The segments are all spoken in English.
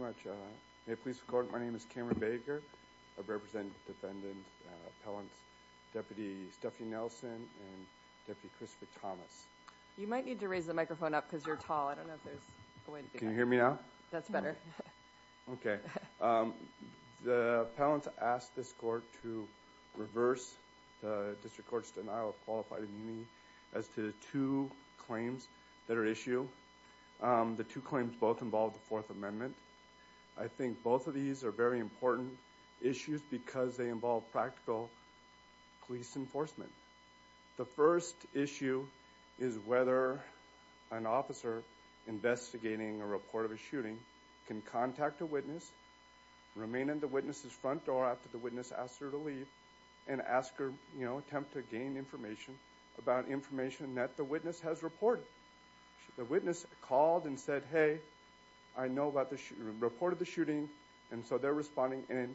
Thank you very much. May it please the Court, my name is Cameron Baker. I represent Defendant Appellants Deputy Stephanie Nelson and Deputy Christopher Thomas. You might need to raise the microphone up because you're tall. I don't know if there's a way to do that. Can you hear me now? That's better. Okay. The Appellants asked this Court to reverse the District Court's denial of qualified immunity as to the two claims that are at issue. The two claims both involve the Fourth Amendment. I think both of these are very important issues because they involve practical police enforcement. The first issue is whether an officer investigating a report of a shooting can contact a witness, remain at the witness's front door after the witness asks her to leave, and ask her, you know, attempt to gain information about information that the witness has reported. The witness called and said, hey, I know about the shooting, reported the shooting, and so they're responding. And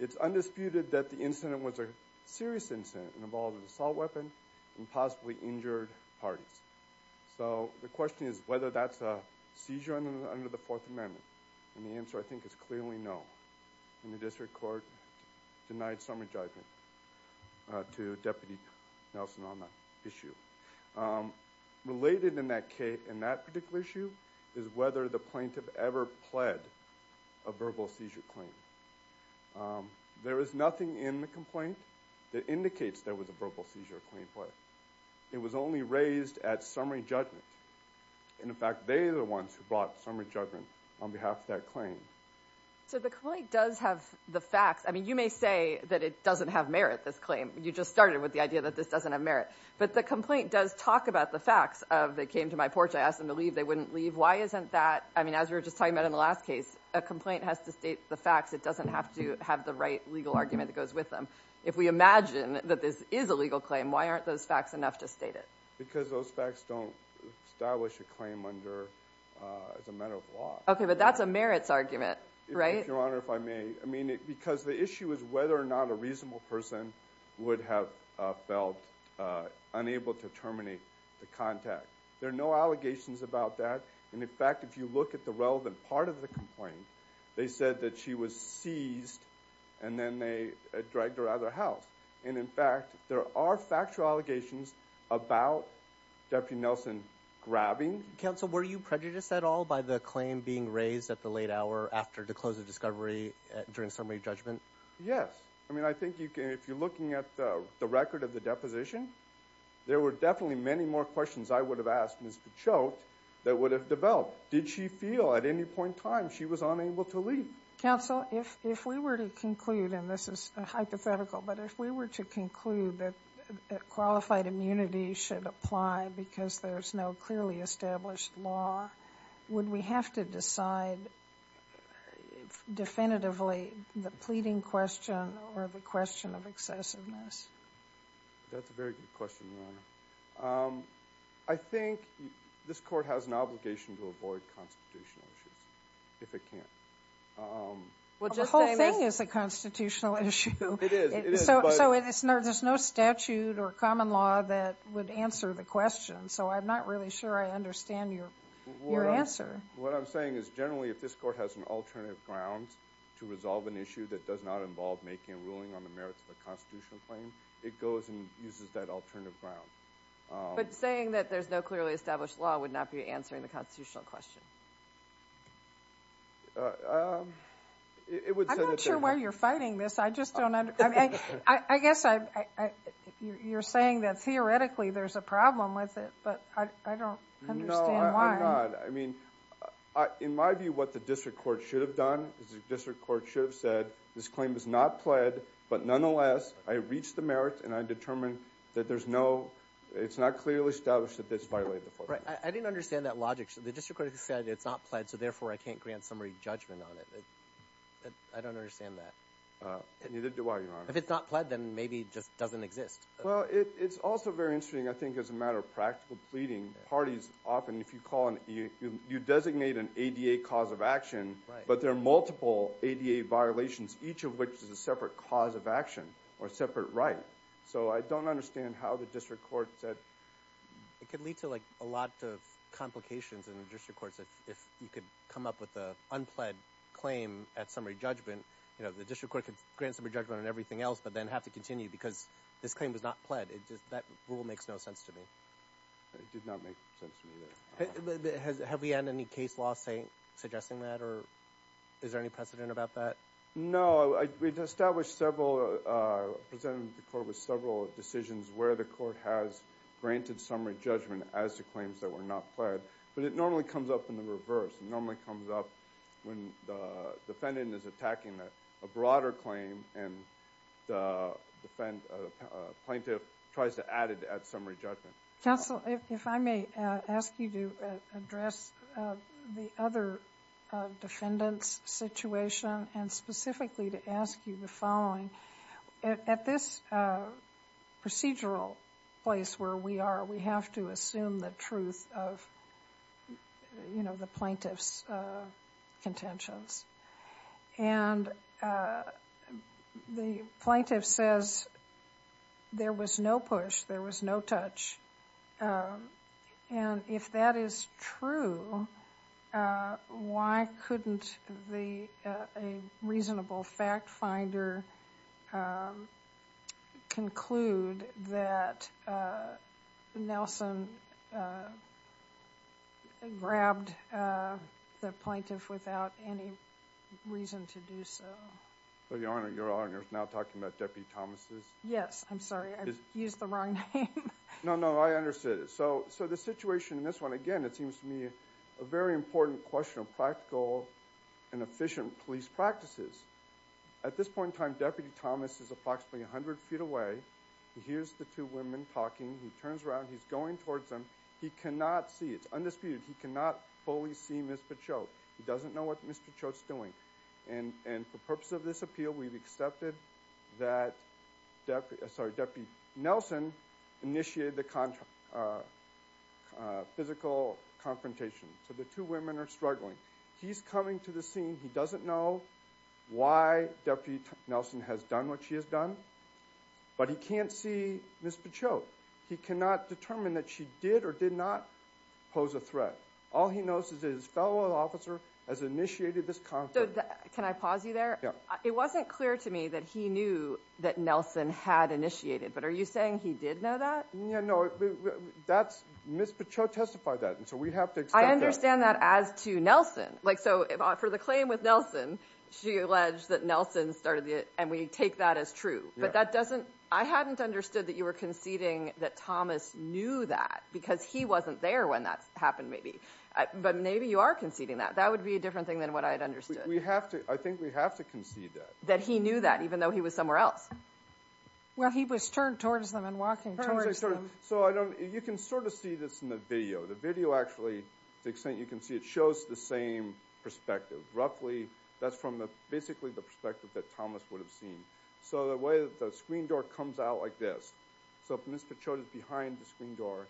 it's undisputed that the incident was a serious incident involving an assault weapon and possibly injured parties. So the question is whether that's a seizure under the Fourth Amendment. And the answer, I think, is clearly no. And the District Court denied summary judgment to Deputy Nelson on that issue. Related in that particular issue is whether the plaintiff ever pled a verbal seizure claim. There is nothing in the complaint that indicates there was a verbal seizure claim pled. It was only raised at summary judgment. In fact, they are the ones who brought summary judgment on behalf of that claim. So the complaint does have the facts. I mean, you may say that it doesn't have merit, this claim. You just started with the idea that this doesn't have merit. But the complaint does talk about the facts of they came to my porch, I asked them to leave, they wouldn't leave. Why isn't that, I mean, as we were just talking about in the last case, a complaint has to state the facts. It doesn't have to have the right legal argument that goes with them. If we imagine that this is a legal claim, why aren't those facts enough to state it? Because those facts don't establish a claim under, as a matter of law. Okay, but that's a merits argument, right? Your Honor, if I may. I mean, because the issue is whether or not a reasonable person would have felt unable to terminate the contact. There are no allegations about that. And in fact, if you look at the relevant part of the complaint, they said that she was seized and then they dragged her out of the house. And in fact, there are factual allegations about Deputy Nelson grabbing. Counsel, were you prejudiced at all by the claim being raised at the late hour after the close of discovery during summary judgment? Yes. I mean, I think you can, if you're looking at the record of the deposition, there were definitely many more questions I would have asked Ms. Pichot that would have developed. Did she feel at any point in time she was unable to leave? Counsel, if we were to conclude, and this is hypothetical, but if we were to conclude that qualified immunity should apply because there's no clearly established law, would we have to decide definitively the pleading question or the question of excessiveness? That's a very good question, Your Honor. I think this Court has an obligation to avoid constitutional issues, if it can. The whole thing is a constitutional issue, so there's no statute or common law that would answer the question, so I'm not really sure I understand your answer. What I'm saying is generally if this Court has an alternative ground to resolve an issue that does not involve making a ruling on the merits of a constitutional claim, it goes and uses that alternative ground. But saying that there's no clearly established law would not be answering the constitutional question. I'm not sure why you're fighting this. I just don't understand. I guess you're saying that theoretically there's a problem with it, but I don't understand why. No, I'm not. I mean, in my view, what the District Court should have done is the District Court should have said, this claim is not pled, but nonetheless, I reached the merits and I determined that there's no, it's not clearly established that this violated the I didn't understand that logic. The District Court said it's not pled, so therefore I can't grant summary judgment on it. I don't understand that. Neither do I, Your Honor. If it's not pled, then maybe it just doesn't exist. Well, it's also very interesting, I think, as a matter of practical pleading. Parties often, if you call, you designate an ADA cause of action, but there are multiple ADA violations, each of which is a separate cause of action or a separate right. So I don't understand how the District Court said. It could lead to a lot of complications in the District Courts if you could come up with an unpled claim at summary judgment. The District Court could grant summary judgment on everything else but then have to continue because this claim was not pled. That rule makes no sense to me. It did not make sense to me, either. Have we had any case law suggesting that or is there any precedent about that? No, we've established several, presented to the Court with several decisions where the Court has granted summary judgment as to claims that were not pled, but it normally comes up in the reverse. It normally comes up when the defendant is attacking a broader claim and the plaintiff tries to add it at summary judgment. Counsel, if I may ask you to address the other defendant's situation and specifically to ask you the following. At this procedural place where we are, we have to assume the truth of, you know, the plaintiff's contentions. And the plaintiff says there was no push, there was no touch. And if that is true, why couldn't a reasonable fact finder conclude that Nelson grabbed the plaintiff without any reason to do so? Your Honor, you're now talking about Deputy Thomas's? Yes, I'm sorry. I used the wrong name. No, no, I understood. So the situation in this one, again, it seems to me a very important question of practical and efficient police practices. At this point in time, Deputy Thomas is approximately 100 feet away. He hears the two women talking. He turns around. He's going towards them. He cannot see. It's undisputed. He cannot fully see Ms. Pachoke. He doesn't know what Ms. Pachoke's doing. And for purposes of this appeal, we've accepted that Deputy Nelson initiated the physical confrontation. So the two women are struggling. He's coming to the scene. He doesn't know why Deputy Nelson has done what she has done. But he can't see Ms. Pachoke. He cannot determine that she did or did not pose a threat. All he knows is that his fellow officer has initiated this conflict. Can I pause you there? It wasn't clear to me that he knew that Nelson had initiated. But are you saying he did know that? No. Ms. Pachoke testified that. And so we have to accept that. I understand that as to Nelson. So for the claim with Nelson, she alleged that Nelson started it. And we take that as true. But I hadn't understood that you were conceding that Thomas knew that. Because he wasn't there when that happened, maybe. But maybe you are conceding that. That would be a different thing than what I had understood. I think we have to concede that. That he knew that, even though he was somewhere else. Well, he was turned towards them and walking towards them. So you can sort of see this in the video. The video actually, to the extent you can see it, shows the same perspective. Roughly, that's from basically the perspective that Thomas would have seen. So the way the screen door comes out like this. So if Ms. Pachoke is behind the screen door,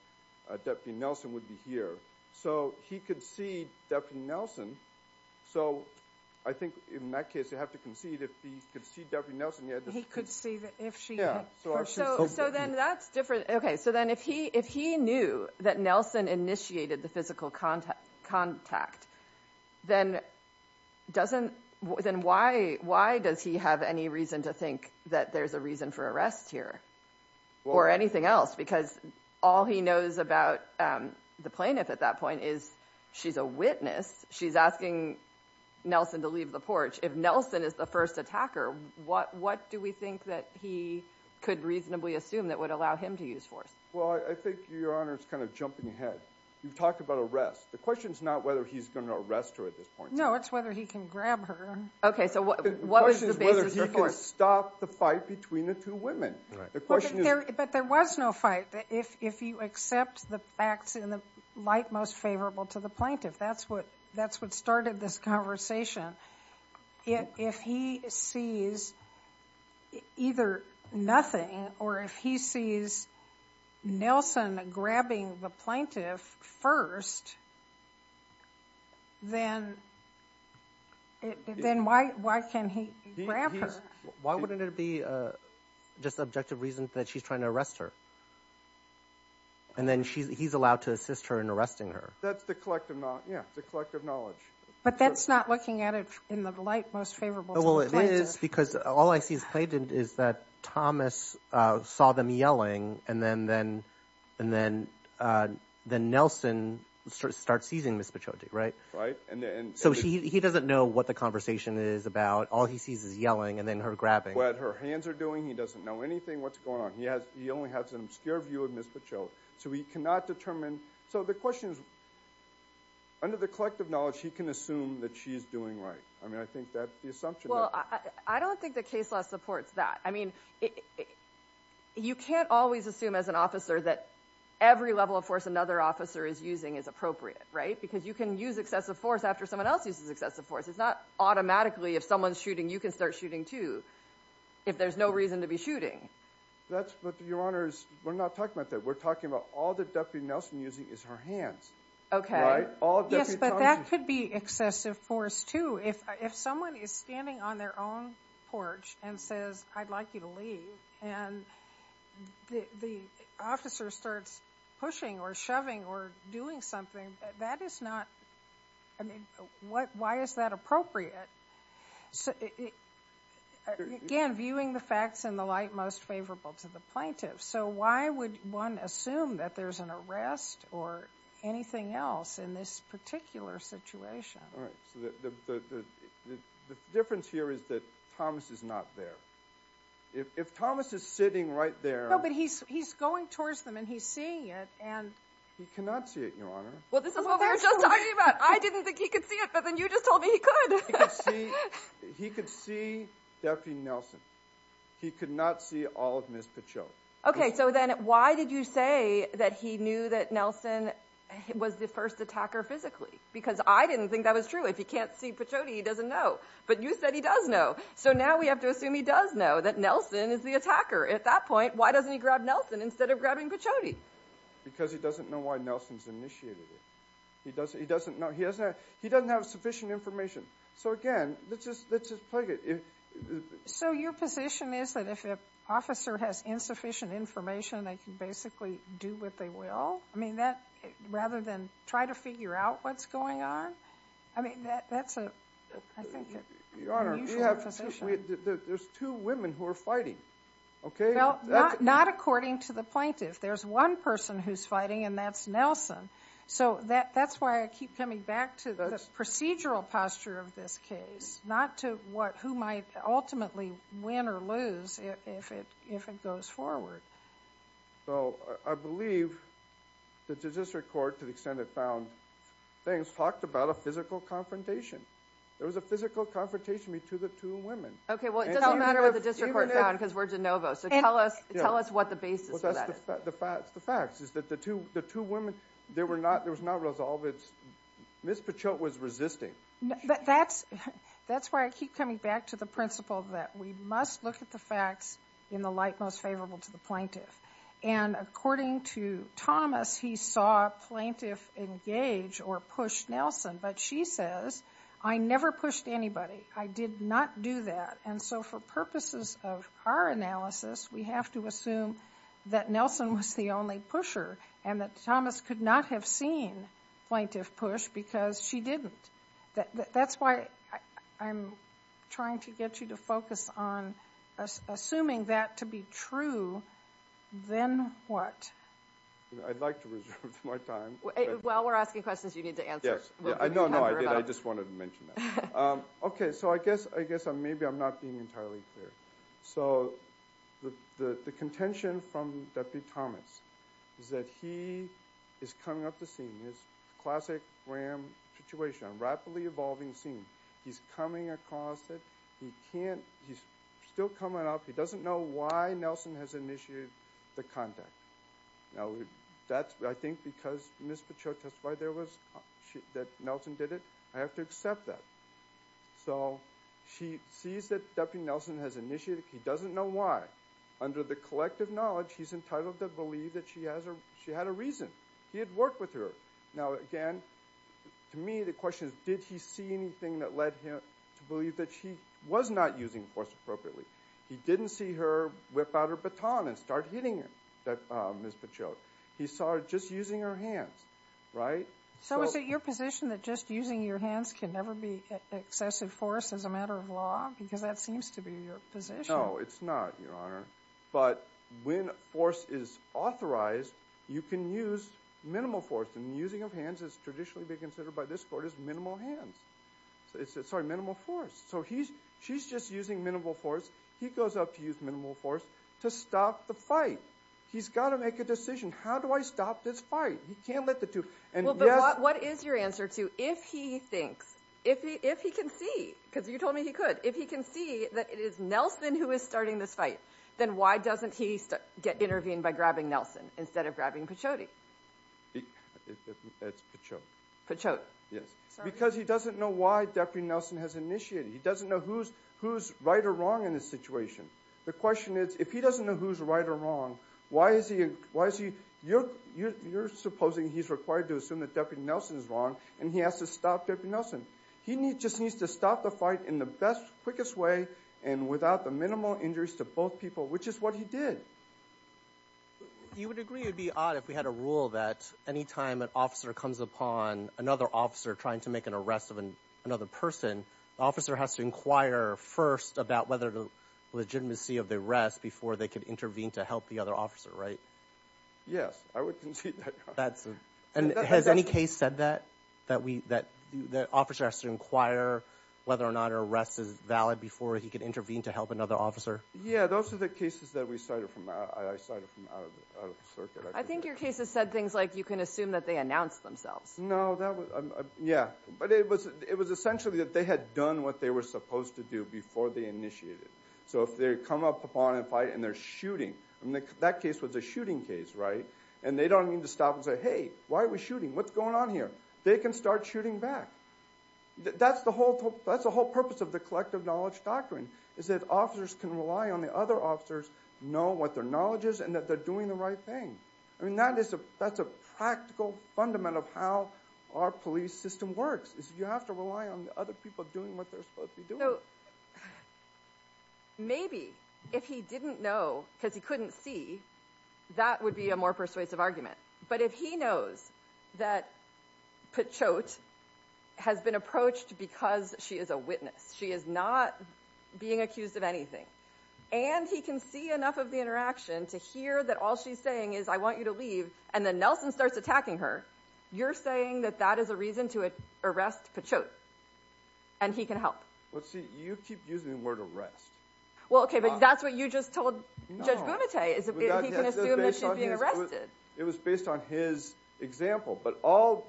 Deputy Nelson would be here. So he could see Deputy Nelson. So I think in that case, you have to concede that he could see Deputy Nelson. He could see if she had her shoes open. So then that's different. Okay. So then if he knew that Nelson initiated the physical contact, then why does he have any reason to think that there's a reason for arrest here or anything else? Because all he knows about the plaintiff at that point is she's a witness. She's asking Nelson to leave the porch. If Nelson is the first attacker, what do we think that he could reasonably assume that would allow him to use force? Well, I think, Your Honor, it's kind of jumping ahead. You've talked about arrest. The question is not whether he's going to arrest her at this point. No, it's whether he can grab her. Okay. So what was the basis for force? The question is whether he can stop the fight between the two women. The question is... But there was no fight. If you accept the facts in the light most favorable to the plaintiff, that's what started this conversation. If he sees either nothing or if he sees something like Nelson grabbing the plaintiff first, then why can he grab her? Why wouldn't it be just objective reason that she's trying to arrest her? And then he's allowed to assist her in arresting her. That's the collective knowledge. Yeah, the collective knowledge. But that's not looking at it in the light most favorable to the plaintiff. Well, it is because all I see as plaintiff is that Thomas saw them yelling and then Nelson starts seizing Ms. Pachaudi, right? So he doesn't know what the conversation is about. All he sees is yelling and then her grabbing. What her hands are doing. He doesn't know anything. What's going on? He only has an obscure view of Ms. Pachaudi. So he cannot determine... So the question is, under the collective knowledge, he can assume that she's doing right. I mean, I think that's the assumption. I don't think the case law supports that. I mean, you can't always assume as an officer that every level of force another officer is using is appropriate, right? Because you can use excessive force after someone else uses excessive force. It's not automatically if someone's shooting, you can start shooting too, if there's no reason to be shooting. That's what Your Honor is... We're not talking about that. We're talking about all that Deputy Nelson is using is her hands, right? Yes, but that could be excessive force too. If someone is standing on their own porch and says, I'd like you to leave, and the officer starts pushing or shoving or doing something, that is not... I mean, why is that appropriate? Again, viewing the facts in the light most favorable to the plaintiff. So why would one assume that there's an arrest or anything else in this particular situation? All right. So the difference here is that Thomas is not there. If Thomas is sitting right there... No, but he's going towards them and he's seeing it, and... He cannot see it, Your Honor. Well, this is what we were just talking about. I didn't think he could see it, but then you just told me he could. He could see Deputy Nelson. He could not see all of Ms. Pichot. Okay. So then why did you say that he knew that Nelson was the first attacker physically? Because I didn't think that was true. If he can't see Pichot, he doesn't know. But you said he does know. So now we have to assume he does know that Nelson is the attacker. At that point, why doesn't he grab Nelson instead of grabbing Pichot? Because he doesn't know why Nelson's initiated it. He doesn't have sufficient information. So again, let's just plug it. So your position is that if an officer has insufficient information, they can basically do what they will? I mean, rather than try to figure out what's going on? I mean, that's a, I think, unusual position. Your Honor, there's two women who are fighting, okay? Not according to the plaintiff. There's one person who's fighting, and that's Nelson. So that's why I keep coming back to the procedural posture of this case, not to who might ultimately win or lose if it goes forward. So I believe that the district court, to the extent it found things, talked about a physical confrontation. There was a physical confrontation between the two women. Okay, well, it doesn't matter what the district court found, because we're de novo. So tell us what the basis for that is. The fact is that the two women, there was not resolve. Ms. Pichot was resisting. That's why I keep coming back to the principle that we must look at the facts in the light most favorable to the plaintiff. And according to Thomas, he saw a plaintiff engage or push Nelson. But she says, I never pushed anybody. I did not do that. And so for purposes of our analysis, we have to assume that Nelson was the only pusher, and that Thomas could not have seen plaintiff push, because she didn't. That's why I'm trying to get you to focus on assuming that to be true, then what? I'd like to reserve my time. While we're asking questions, you need to answer. No, no, I did. I just wanted to mention that. Okay, so I guess maybe I'm not being entirely clear. So the contention from Deputy Thomas is that he is coming up the scene. It's a classic Graham situation, a rapidly evolving scene. He's coming across it. He can't, he's still coming up. He doesn't know why Nelson has initiated the contact. Now that's, I think, because Ms. Pichot testified there was, that Nelson did it. I have to accept that. So she sees that Deputy Nelson has initiated, he doesn't know why. Under the collective knowledge, he's entitled to believe that she had a reason. He had worked with her. Now again, to me the question is, did he see anything that led him to believe that she was not using force appropriately? He didn't see her whip out her baton and start hitting Ms. Pichot. He saw her just using her hands, right? So is it your position that just using your hands can never be excessive force as a matter of law? Because that seems to be your position. No, it's not, Your Honor. But when force is authorized, you can use minimal force. And using of hands has traditionally been considered by this Court as minimal hands. Sorry, minimal force. So she's just using minimal force. He goes up to use minimal force to stop the fight. He's got to make a decision. How do I stop this fight? He can't let the two... What is your answer to if he thinks, if he can see, because you told me he could, if he can see that it is Nelson who is starting this fight, then why doesn't he intervene by grabbing Nelson instead of grabbing Pichot? It's Pichot. Pichot. Because he doesn't know why Deputy Nelson has initiated. He doesn't know who's right or wrong in this situation. The question is, if he doesn't know who's right or wrong, why is he... You're supposing he's required to assume that Deputy Nelson is wrong and he has to stop Deputy Nelson. He just needs to stop the fight in the best, quickest way and without the minimal injuries to both people, which is what he did. You would agree it would be odd if we had a rule that any time an officer comes upon another officer trying to make an arrest of another person, the officer has to inquire first about whether the legitimacy of the arrest before they could intervene to help the other officer, right? Yes, I would concede that. Has any case said that? That the officer has to inquire whether or not an arrest is valid before he can intervene to help another officer? Yeah, those are the cases that I cited from out of the circuit. I think your cases said things like you can assume that they announced themselves. No, that was... Yeah, but it was essentially that they had done what they were supposed to do before they initiated. So if they come up upon a fight and they're shooting... That case was a shooting case, right? And they don't need to stop and say, hey, why are we shooting? What's going on here? They can start shooting back. That's the whole purpose of the collective knowledge doctrine, is that officers can rely on the other officers to know what their knowledge is and that they're doing the right thing. I mean, that's a practical fundamental of how our police system works. You have to rely on the other people doing what they're supposed to be doing. Maybe if he didn't know because he couldn't see, that would be a more persuasive argument. But if he knows that Pachote has been approached because she is a witness, she is not being accused of anything, and he can see enough of the interaction to hear that all she's saying is, I want you to leave, and then Nelson starts attacking her, you're saying that that is a reason to arrest Pachote, and he can help. You keep using the word arrest. Well, okay, but that's what you just told Judge Bumate. He can assume that she's being arrested. It was based on his example, but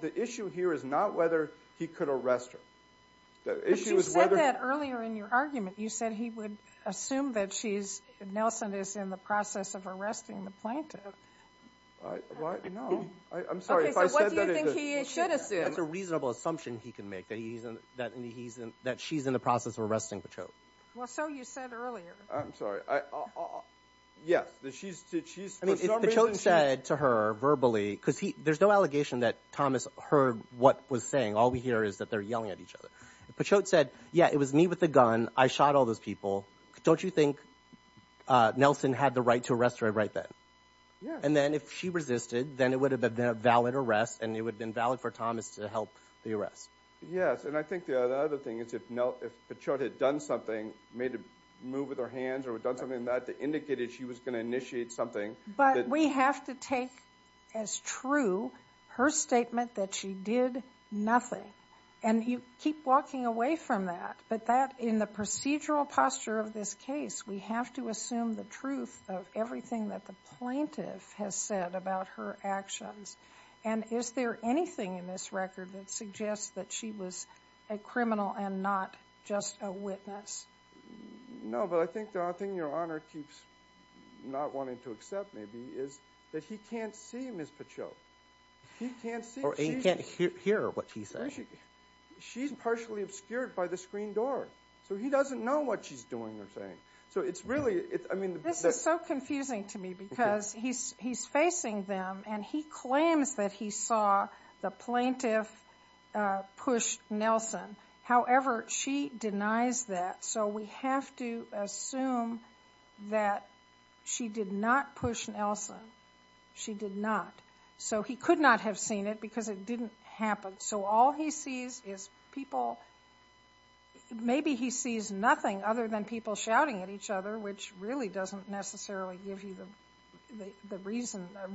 the issue here is not whether he could arrest her. But you said that earlier in your argument. You said he would assume that Nelson is in the process of arresting the plaintiff. I'm sorry, if I said that... What do you think he should assume? That she's in the process of arresting Pachote. Well, so you said earlier. If Pachote said to her verbally, because there's no allegation that Thomas heard what was saying. All we hear is that they're yelling at each other. If Pachote said, yeah, it was me with the gun. I shot all those people. Don't you think Nelson had the right to arrest her right then? And then if she resisted, then it would have been a valid arrest, and it would have been valid for Thomas to help the arrest. Yes, and I think the other thing is if Pachote had done something, made a move with her hands or done something that indicated she was going to initiate something. But we have to take as true her statement that she did nothing. And you keep walking away from that. But in the procedural posture of this case, we have to assume the truth of everything that the plaintiff has said about her actions. And is there anything in this record that suggests that she was a criminal and not just a witness? No, but I think the only thing Your Honor keeps not wanting to accept maybe is that he can't see Ms. Pachote. He can't see. Or he can't hear what she's saying. She's partially obscured by the screen door. So he doesn't know what she's doing or saying. This is so confusing to me because he's facing them and he claims that he saw the plaintiff push Nelson. However, she denies that. So we have to assume that she did not push Nelson. She did not. So he could not have seen it because it didn't happen. So all he sees is people Maybe he sees nothing other than people shouting at each other which really doesn't necessarily give you a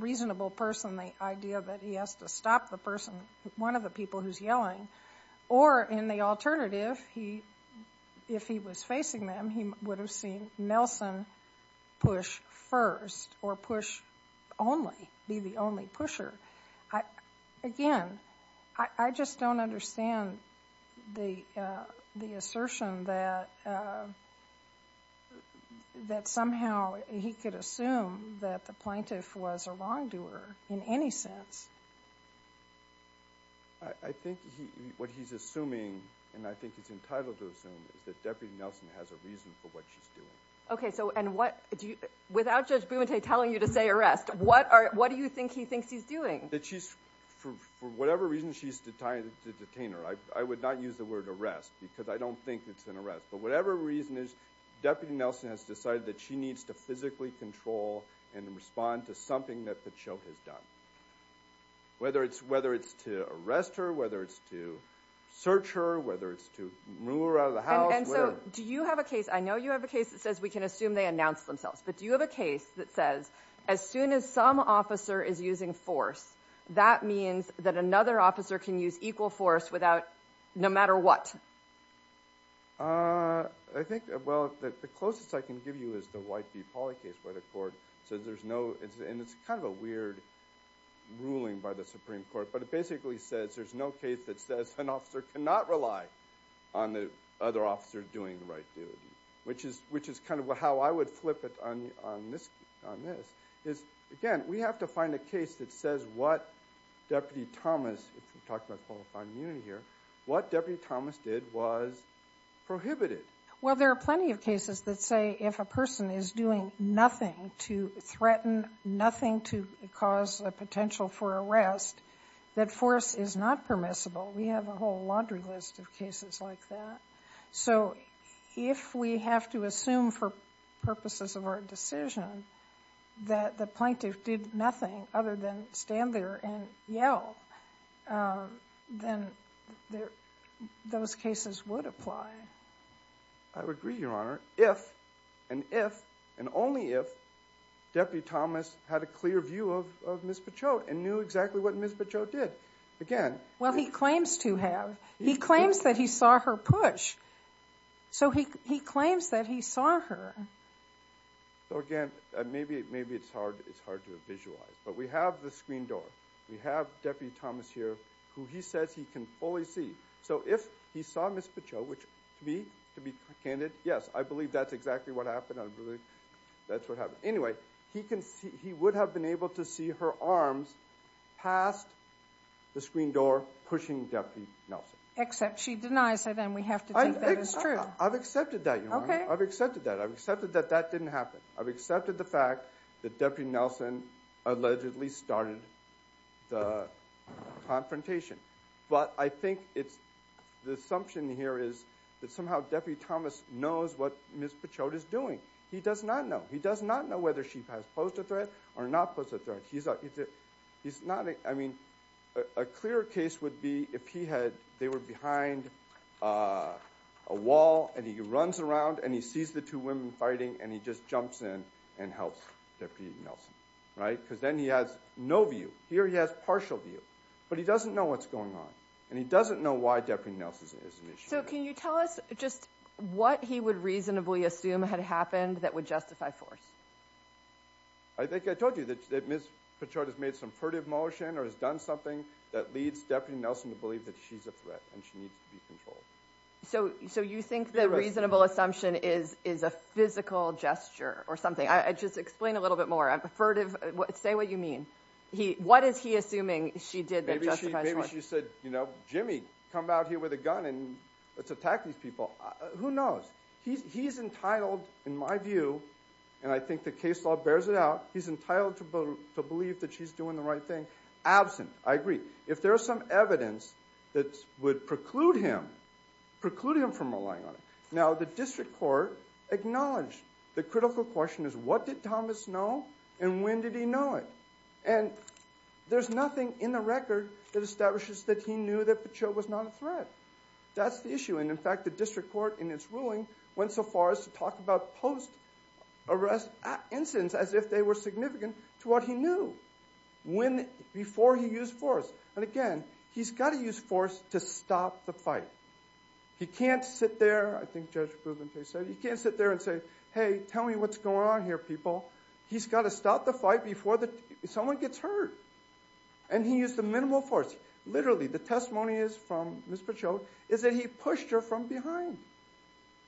reasonable person the idea that he has to stop the person one of the people who's yelling. Or in the alternative, if he was facing them, he would have seen Nelson push first or push only. Be the only pusher. Again, I just don't understand the assertion that somehow he could assume that the plaintiff was a wrongdoer in any sense. I think what he's assuming, and I think he's entitled to assume, is that Deputy Nelson has a reason for what she's doing. Okay, so without Judge Bumate telling you to say arrest, what do you think he thinks he's doing? That she's, for whatever reason, she's a detainer. I would not use the word arrest because I don't think it's an arrest. But whatever reason it is, Deputy Nelson has decided that she needs to physically control and respond to something that Pacheco has done. Whether it's to arrest her, whether it's to search her, whether it's to move her out of the house. And so, do you have a case, I know you have a case that says we can assume they announced themselves, but do you have a case that says as soon as some officer is using force, that means that another officer can use equal force no matter what? I think, well, the closest I can give you is the White v. Pauly case where the court says there's no, and it's kind of a weird ruling by the Supreme Court, but it basically says there's no case that says an officer cannot rely on the other officer doing the right duty. Which is kind of how I would flip it on this. Again, we have to find a case that says what Deputy Thomas, if we're talking about qualified immunity here, what Deputy Thomas did was prohibited. Well, there are plenty of cases that say if a person is doing nothing to threaten nothing to cause a potential for arrest, that force is not permissible. We have a whole laundry list of cases like that. So, if we have to assume for purposes of our decision that the plaintiff did nothing other than stand there and yell, then those cases would apply. I would agree, Your Honor. If, and if, and only if, Deputy Thomas had a clear view of Ms. Pachote and knew exactly what Ms. Pachote did. Again, He claims to have. He claims that he saw her push. So, he claims that he saw her. So, again, maybe it's hard to visualize. But we have the screen door. We have Deputy Thomas here who he says he can fully see. So, if he saw Ms. Pachote, which to me, to be candid, yes, I believe that's exactly what happened. I believe that's what happened. Anyway, he would have been able to see her arms past the screen door pushing Deputy Nelson. Except she denies it and we have to think that is true. I've accepted that, Your Honor. Okay. I've accepted that. I've accepted that that didn't happen. I've accepted the fact that Deputy Nelson allegedly started the confrontation. But I think it's, the assumption here is that somehow Deputy Thomas knows what Ms. Pachote is doing. He does not know. He does not know whether she has posed a threat or not posed a threat. He's not, I mean, a clear case would be if he had, they were behind a wall and he runs around and he sees the two women fighting and he just jumps in and helps Deputy Nelson. Right? Because then he has no view. Here he has partial view. But he doesn't know what's going on. And he doesn't know why Deputy Nelson is an issue. So, can you tell us just what he would reasonably assume had happened that would justify force? I think I told you that Ms. Pachote has made some furtive motion or has done something that leads Deputy Nelson to believe that she's a threat and she needs to be controlled. So, you think the reasonable assumption is a physical gesture or something? Just explain a little bit more. Say what you mean. What is he assuming she did that justified force? Maybe she said, you know, Jimmy, come out here with a gun and let's attack these people. Who knows? He's entitled, in my view, and I think the case law bears it out, he's entitled to believe that she's doing the right thing. Absent. I agree. If there's some evidence that would preclude him from relying on it. Now, the district court acknowledged the critical question is what did Thomas know and when did he know it? And there's nothing in the record that establishes that he knew that Pachote was not a threat. That's the issue. And, in fact, the district court in its ruling went so far as to talk about post-arrest incidents as if they were significant to what he knew before he used force. And, again, he's got to use force to stop the fight. He can't sit there, I think Judge Bouventay said, he can't sit there and say, hey, tell me what's going on here, people. He's got to stop the fight before someone gets hurt. And he used the minimal force. Literally, the testimony is from Ms. Pachote is that he pushed her from behind.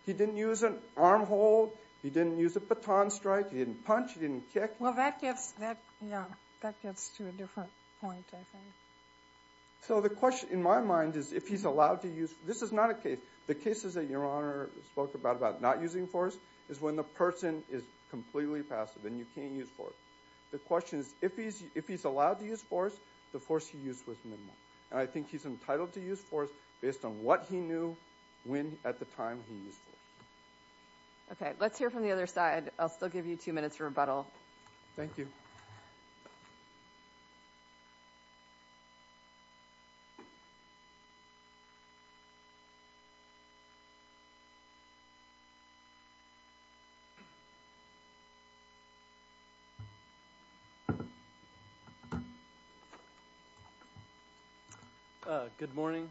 He didn't use an arm hold. He didn't use a baton strike. He didn't punch. He didn't kick. Well, that gets to a different point, I think. So, the question, in my mind, is if he's allowed to use force. This is not a case. The cases that your Honor spoke about, about not using force, is when the person is completely passive and you can't use force. The question is if he's allowed to use force, the force he used was minimal. And I think he's entitled to use force based on what he knew when at the time he used force. Okay. Let's hear from the other side. I'll still give you two minutes for rebuttal. Thank you. Good morning.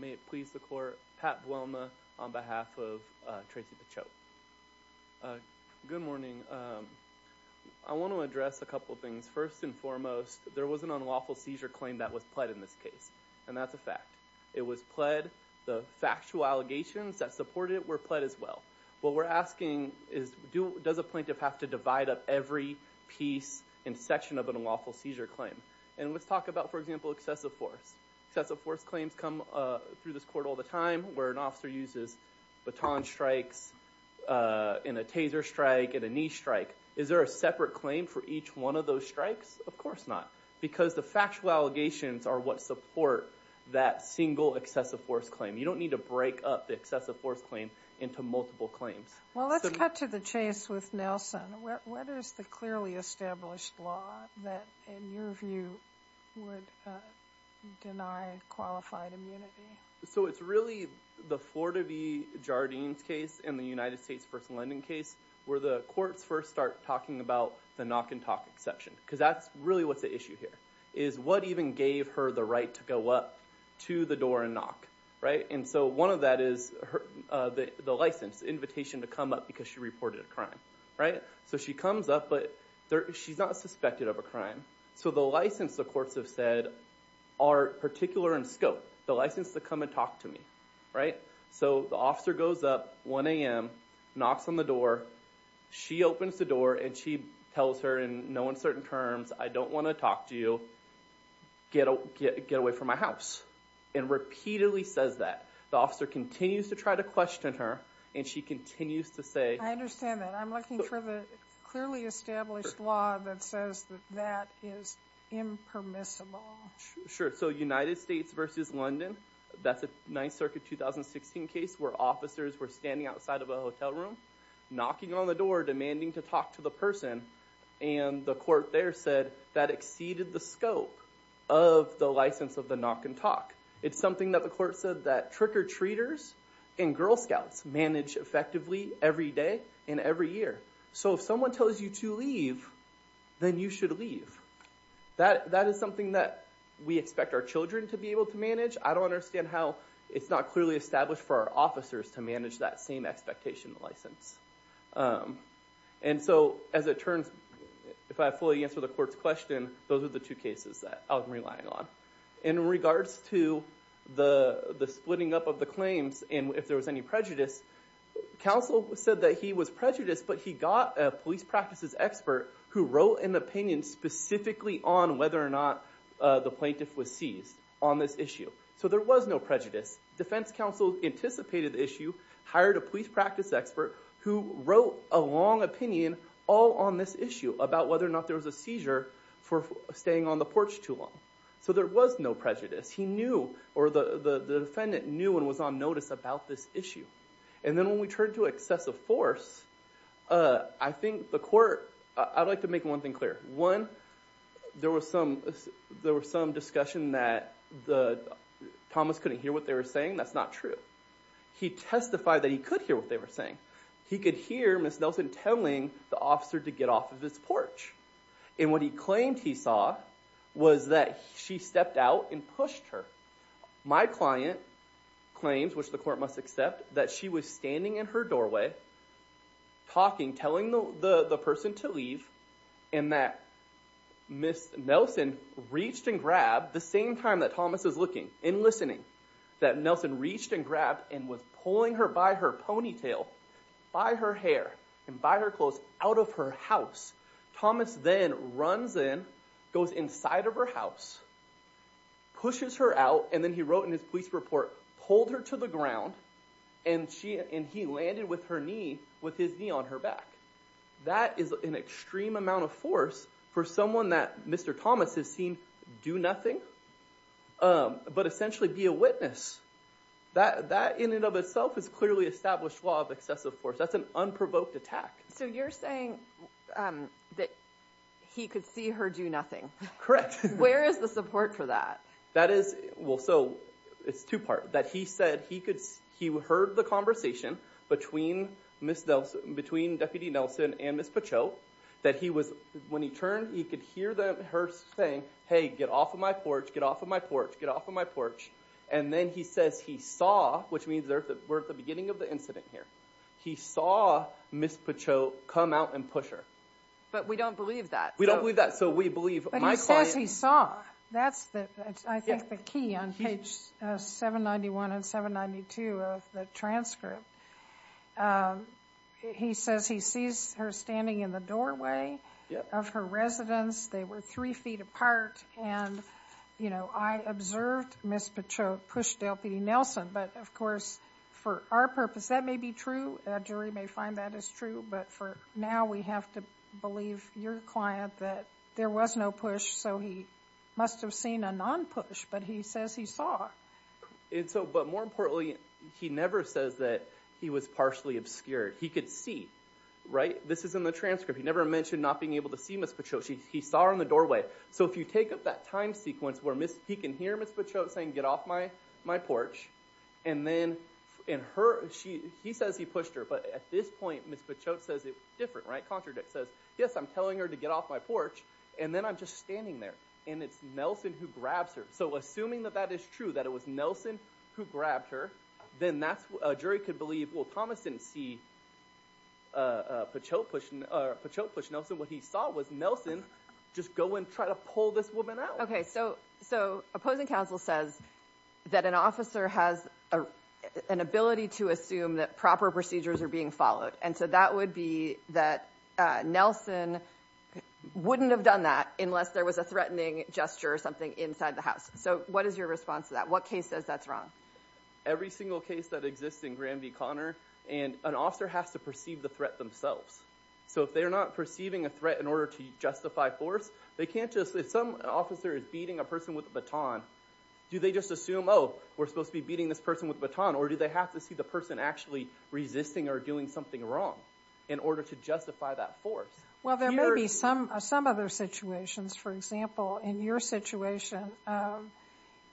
May it please the Court. Pat Buolma on behalf of Tracy Pachote. Good morning. I want to address a couple things. First and foremost, there was an unlawful seizure claim that was pled in this case. And that's a fact. It was pled. The factual allegations that supported it were pled as well. What we're asking is, does a plaintiff have to divide up every piece and section of an unlawful seizure claim? And let's talk about, for example, excessive force. Excessive force claims come through this Court all the time where an officer uses baton strikes and a taser strike and a knee strike. Is there a separate claim for each one of those strikes? Of course not. Because the factual allegations are what support that single excessive force claim. You don't need to break up the excessive force claim into multiple claims. Well, let's cut to the chase with Nelson. What is the clearly established law that, in your view, would deny qualified immunity? It's really the Florida v. Jardines case and the United States v. Linden case where the courts first start talking about the knock and talk exception. Because that's really what's at issue here. What even gave her the right to go up to the door and knock? One of that is the license, the invitation to come up because she reported a crime. She comes up, but she's not suspected of a crime. So the license, the courts have said, are particular in scope. The license to come and talk to me. So the officer goes up 1 a.m., knocks on the door. She opens the door and she tells her in no uncertain terms, I don't want to talk to you. Get away from my house. And repeatedly says that. The officer continues to try to question her and she continues to say... I understand that. I'm looking for the clearly established law that says that is impermissible. Sure. So United States v. Linden, that's a 9th Circuit 2016 case where officers were standing outside of a hotel room knocking on the door demanding to talk to the person and the court there said that exceeded the scope of the license of the knock and talk. It's something that the court said that trick-or-treaters and Girl Scouts manage effectively every day and every year. So if someone tells you to leave, then you should leave. That is something that we expect our children to be able to manage. I don't understand how it's not clearly established for our officers to manage that same expectation license. And so as it turns, if I fully answer the court's question, those are the two cases that I'm relying on. In regards to the splitting up of the claims and if there was any prejudice, counsel said that he was prejudiced, but he got a police practices expert who wrote an opinion specifically on whether or not the plaintiff was seized on this issue. So there was no prejudice. Defense counsel anticipated the issue, hired a police practice expert who wrote a long opinion all on this issue about whether or not there was a seizure for staying on the porch too long. So there was no prejudice. He knew, or the defendant knew and was on notice about this issue. And then when we turn to excessive force, I think the court, I'd like to make one thing clear. One, there was some discussion that Thomas couldn't hear what they were saying. That's not true. He testified that he could hear what they were saying. He could hear Ms. Nelson telling the officer to get off of his porch. And what he claimed he saw was that she stepped out and pushed her. My client claims, which the court must accept, that she was standing in her doorway, talking, telling the person to leave, and that Ms. Nelson reached and grabbed, the same time that Thomas was looking and listening, that Nelson reached and grabbed and was pulling her by her ponytail by her hair and by her clothes out of her house. Thomas then runs in, goes inside of her house, pushes her out, and then he wrote in his police report, pulled her to the ground, and he landed with her knee with his knee on her back. That is an extreme amount of force for someone that Mr. Thomas has seen do nothing but essentially be a witness. That in and of itself is clearly established law of excessive force. That's an unprovoked attack. So you're saying that he could see her do nothing. Correct. Where is the support for that? It's two-part. That he said he heard the conversation between Deputy Nelson and Ms. Pacheau that he was, when he turned, he could hear her saying hey, get off of my porch, get off of my porch, get off of my porch. And then he says he saw, which means we're at the beginning of the incident here, he saw Ms. Pacheau come out and push her. But we don't believe that. We don't believe that, so we believe my client... But he says he saw. That's, I think, the key on page 791 and 792 of the transcript. He says he sees her standing in the doorway of her residence. They were three feet apart, and you know, I observed Ms. Pacheau push Deputy Nelson, but of course, for our purpose, that may be true. A jury may find that is true, but for now, we have to believe your client that there was no push, so he must have seen a non-push, but he says he saw. And so, but more importantly, he never says that he was partially obscured. He could see, right? This is in the transcript. He never mentioned not being able to see Ms. Pacheau. He saw her in the doorway. So if you take up that time sequence where he can hear Ms. Pacheau saying get off my porch, and then in her... He says he pushed her, but at this point, Ms. Pacheau says it different, right? Contradict says yes, I'm telling her to get off my porch, and then I'm just standing there. And it's Nelson who grabs her. So assuming that that is true, that it was Nelson who grabbed her, then that's...a jury could believe, well, Thomas didn't see Pacheau push Nelson. What he saw was Nelson just go and try to pull this woman out. So opposing counsel says that an officer has an ability to assume that proper procedures are being followed. And so that would be that Nelson wouldn't have done that unless there was a threatening gesture or something inside the house. So what is your response to that? What case says that's wrong? Every single case that exists in Granby Connor, an officer has to perceive the threat themselves. So if they're not perceiving a threat in order to justify force, they can't just...if some officer is beating a person with a baton, do they just assume, oh, we're supposed to be beating this person with a baton, or do they have to see the person actually resisting or doing something wrong in order to justify that force? Well, there may be some other situations. For example, in your situation,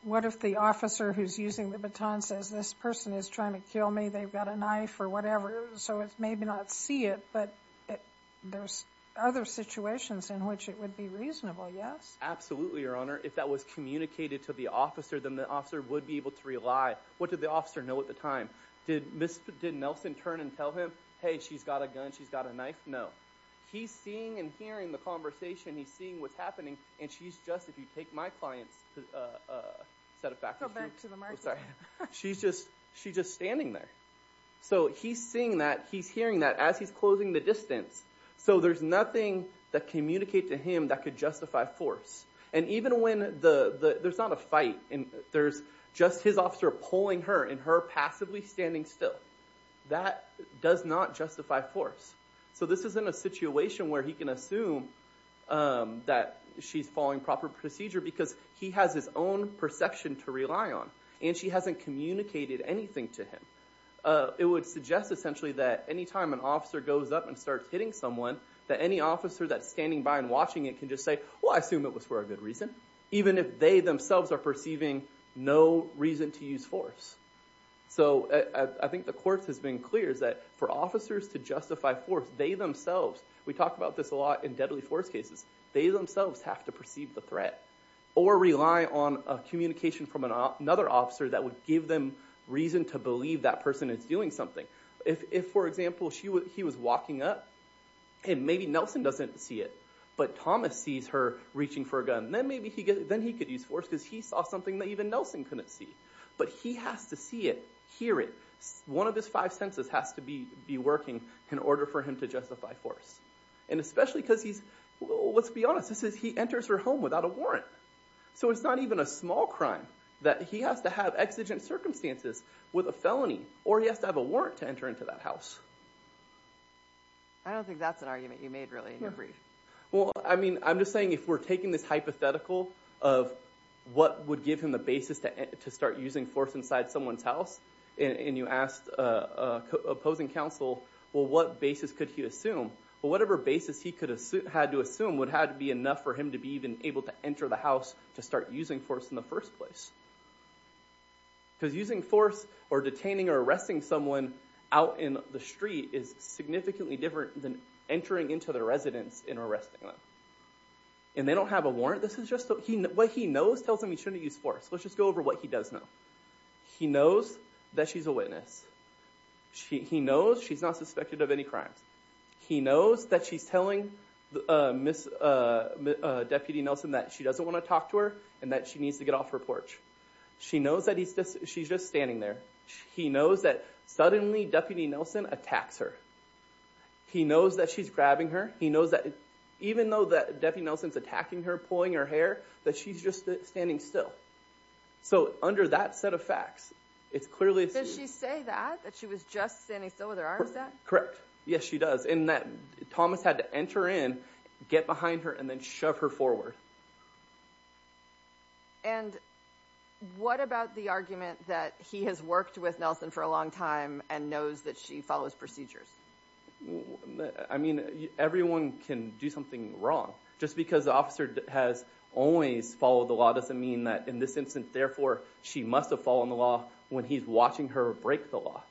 what if the officer who's using the baton says, this person is trying to kill me. They've got a knife or whatever. So it's maybe not see it, but there's other situations in which it would be reasonable, yes? Absolutely, Your Honor. If that was communicated to the officer, then the officer would be able to rely. What did the officer know at the time? Did Nelson turn and tell him, hey, she's got a gun, she's got a knife? No. He's seeing and hearing the conversation. He's seeing what's happening, and she's just...if you take my client's set of factors, she's just standing there. So he's seeing that. He's hearing that as he's closing the distance. So there's nothing that communicates to him that could justify force. And even when...there's not a fight. There's just his officer pulling her and her passively standing still. That does not justify force. So this is in a situation where he can assume that she's following proper procedure because he has his own perception to rely on, and she hasn't communicated anything to him. It would suggest essentially that any time an officer goes up and starts hitting someone, that any officer that's standing by and watching it can just say, well, I assume it was for a good reason. Even if they themselves are perceiving no reason to use force. So I think the court has been clear that for officers to justify force, they themselves...we talk about this a lot in deadly force cases. They themselves have to perceive the threat or rely on communication from another officer that would give them reason to believe that person is doing something. If, for example, he was walking up and maybe Nelson doesn't see it, but Thomas sees her reaching for a gun, then maybe he could use force because he saw something that even Nelson couldn't see. But he has to see it, hear it. One of his five senses has to be working in order for him to justify force. And especially because he's...let's be honest, he enters her home without a warrant. So it's not even a small crime that he has to have exigent circumstances with a felony, or he has to have a warrant to enter into that house. I don't think that's an argument you made, really, in your brief. Well, I mean, I'm just saying if we're taking this hypothetical of what would give him the basis to start using force inside someone's house and you asked an opposing counsel, well, what basis could he assume? Well, whatever basis he had to assume would have to be enough for him to be even able to enter the house to start using force in the first place. Because using force or detaining or arresting someone out in the street is significantly different than entering into their residence and arresting them. And they don't have a warrant. This is just...what he knows tells him he shouldn't use force. Let's just go over what he does know. He knows that she's a witness. He knows she's not suspected of any crimes. He knows that she's telling Deputy Nelson that she doesn't want to talk to her and that she needs to get off her porch. She knows that she's just standing there. He knows that suddenly Deputy Nelson attacks her. He knows that she's grabbing her. He knows that even though that Deputy Nelson's attacking her, pulling her hair, that she's just standing still. So under that set of facts, it's clearly... Does she say that? That she was just standing still with her arms out? Correct. Yes, she does. And that Thomas had to enter in, get behind her, and then shove her forward. And what about the argument that he has worked with Nelson for a long time and knows that she follows procedures? I mean, everyone can do something wrong. Just because the officer has always followed the law doesn't mean that in this instance, therefore she must have followed the law when he's watching her break the law.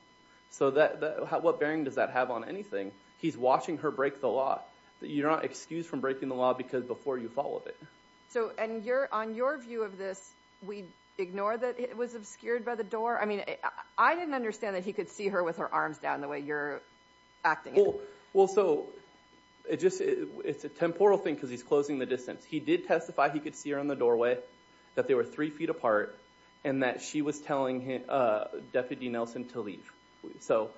So what bearing does that have on anything? He's watching her break the law. You're not excused from breaking the law because before you followed it. So on your view of this, we ignore that it was obscured by the door? I mean, I didn't understand that he could see her with her arms down the way you're acting. Well, so, it's a temporal thing because he's closing the distance. He did testify he could see her on the doorway, that they were three feet apart, and that she was telling Deputy Nelson to leave. So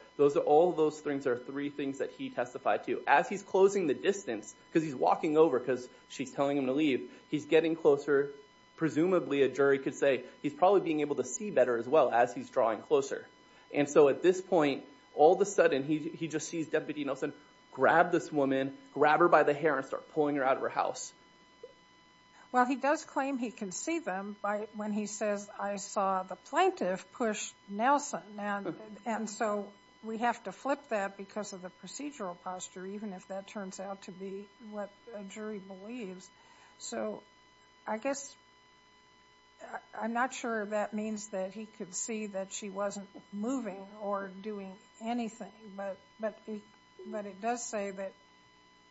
all of those things are three things that he testified to. As he's closing the distance, because he's talking over because she's telling him to leave, he's getting closer. Presumably, a jury could say he's probably being able to see better as well as he's drawing closer. And so at this point, all of a sudden, he just sees Deputy Nelson grab this woman, grab her by the hair, and start pulling her out of her house. Well, he does claim he can see them when he says I saw the plaintiff push Nelson. And so we have to flip that because of the procedural posture, even if that turns out to be what a jury believes. So, I guess, I'm not sure that means that he could see that she wasn't moving or doing anything. But it does say that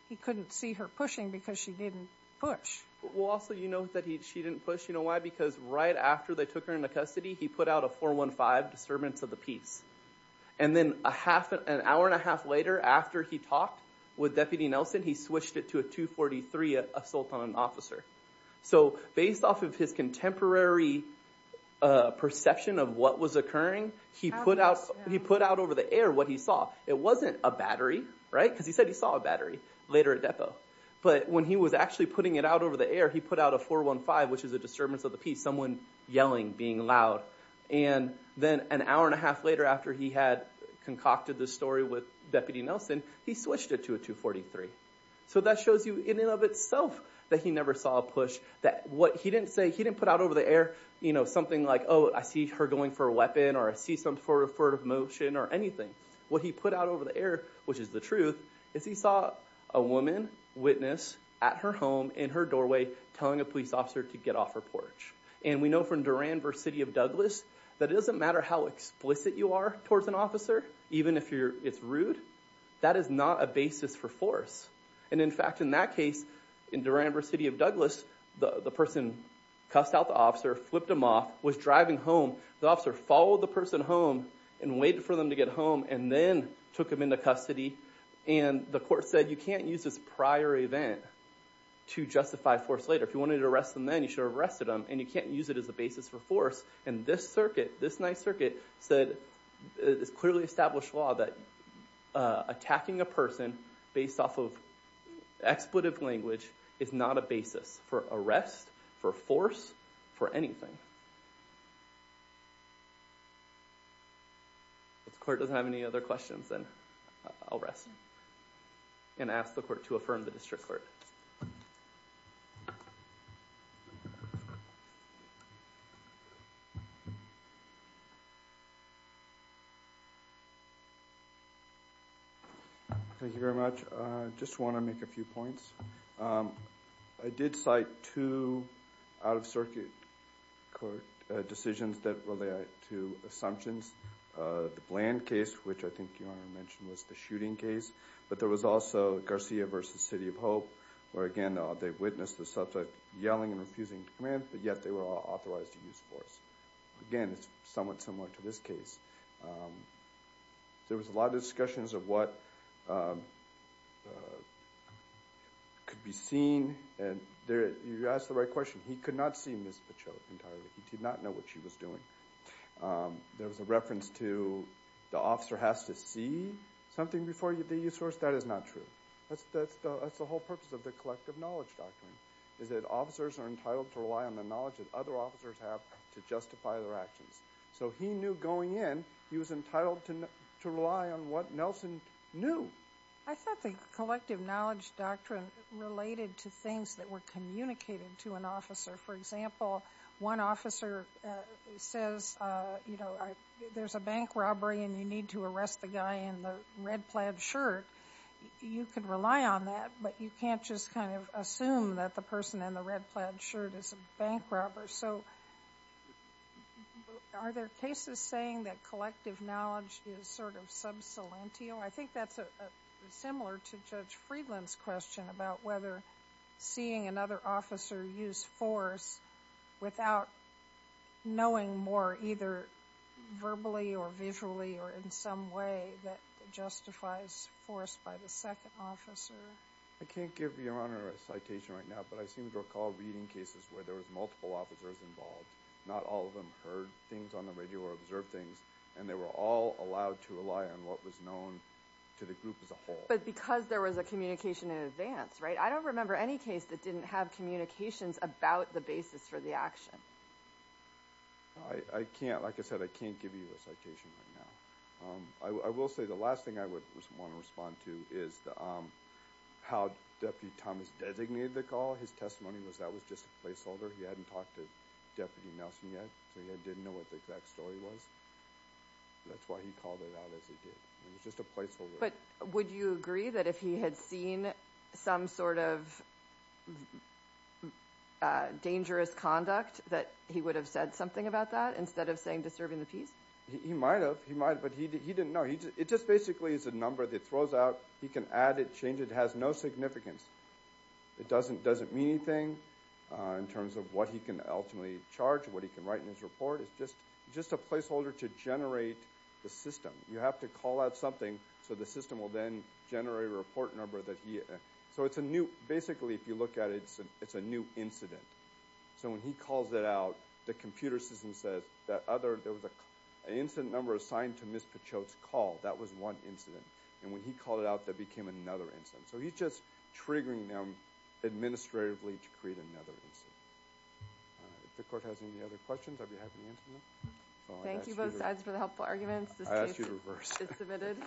he couldn't see her pushing because she didn't push. Well, also, you know that she didn't push. You know why? Because right after they took her into custody, he put out a 415 disturbance of the peace. And then an hour and a half later, after he talked with Deputy Nelson, he switched it to a 243 assault on an officer. So based off of his contemporary perception of what was occurring, he put out over the air what he saw. It wasn't a battery, right? Because he said he saw a battery later at depot. But when he was actually putting it out over the air, he put out a 415, which is a disturbance of the peace, someone yelling, being loud. And then an hour and a half later, after he had concocted this story with Deputy Nelson, he switched it to a 243. So that shows you, in and of itself, that he never saw a push. That what he didn't say, he didn't put out over the air, you know, something like, oh, I see her going for a weapon or I see some sort of motion or anything. What he put out over the air, which is the truth, is he saw a woman witness at her home, in her doorway, telling a police officer to get off her porch. And we know from Duran versus City of Douglas that it doesn't matter how explicit you are towards an officer, even if it's rude, that is not a basis for force. And in fact, in that case, in Duran versus City of Douglas, the person cussed out the officer, flipped him off, was driving home. The officer followed the person home and waited for them to get home and then took him into custody. And the court said, you can't use this prior event to justify force later. If you wanted to arrest them then, you should have arrested them. And you can't use it as a basis for force. And this circuit, this nice circuit, said, it's clearly established law that attacking a person based off of expletive language is not a basis for arrest, for force, for anything. If the court doesn't have any other questions, then I'll rest and ask the court to affirm the district court. Thank you. Thank you very much. I just want to make a few points. I did cite two out-of-circuit court decisions that relate to assumptions. The Bland case, which I think you mentioned was the shooting case. But there was also Garcia versus City of Hope where again, they witnessed the subject yelling and refusing to command but yet, they were authorized to use force. Again, it's somewhat similar to this case. There was a lot of discussions of what could be seen and you asked the right question. He could not see Ms. Pacheco entirely. He did not know what she was doing. There was a reference to the officer has to see something before they use force. That is not true. That's the whole purpose of the collective knowledge doctrine. Officers are entitled to rely on the knowledge that other officers have to justify their actions. He knew going in, he was entitled to rely on what Nelson knew. I thought the collective knowledge doctrine related to things that were communicated to an officer. For example, one officer says there's a bank robbery and you need to arrest the guy in the red plaid shirt. You could rely on that but you can't just kind of assume that the person in the red plaid shirt is a bank robber. Are there cases saying that collective knowledge is sort of sub silentio? I think that's similar to Judge Friedland's question about whether seeing another officer use force without knowing more either verbally or visually or in some way that justifies force by the second officer. I can't give your honor a citation right now but I seem to recall reading cases where there was multiple officers involved. Not all of them heard things on the radio or observed things and they were all allowed to rely on what was known to the group as a whole. But because there was a communication in advance, right? I don't remember any case that didn't have communications about the basis for the action. I can't, like I said, I can't give you a citation right now. I will say the last thing I would want to respond to is how Deputy Thomas designated the call. His testimony was that was just a placeholder. He hadn't talked to Deputy Nelson yet so he didn't know what the exact story was. That's why he called it out as he did. It was just a placeholder. But would you agree that if he had seen some sort of dangerous conduct that he would have said something about that instead of saying disturbing the peace? He might have, but he didn't know. It just basically is a number that throws out. He can add it, change it. It has no significance. It doesn't mean anything in terms of what he can ultimately charge, what he can write in his report. It's just a placeholder to generate the system. You have to call out something so the system will then generate a report number. So it's a new, basically if you look at it, it's a new incident. So when he calls it out, the computer system says that there was an incident number assigned to Ms. Pachote's call. That was one incident. And when he called it out, that became another incident. So he's just triggering them administratively to create another incident. If the court has any other questions, I'd be happy to answer them. Thank you both sides for the helpful arguments. This case is submitted.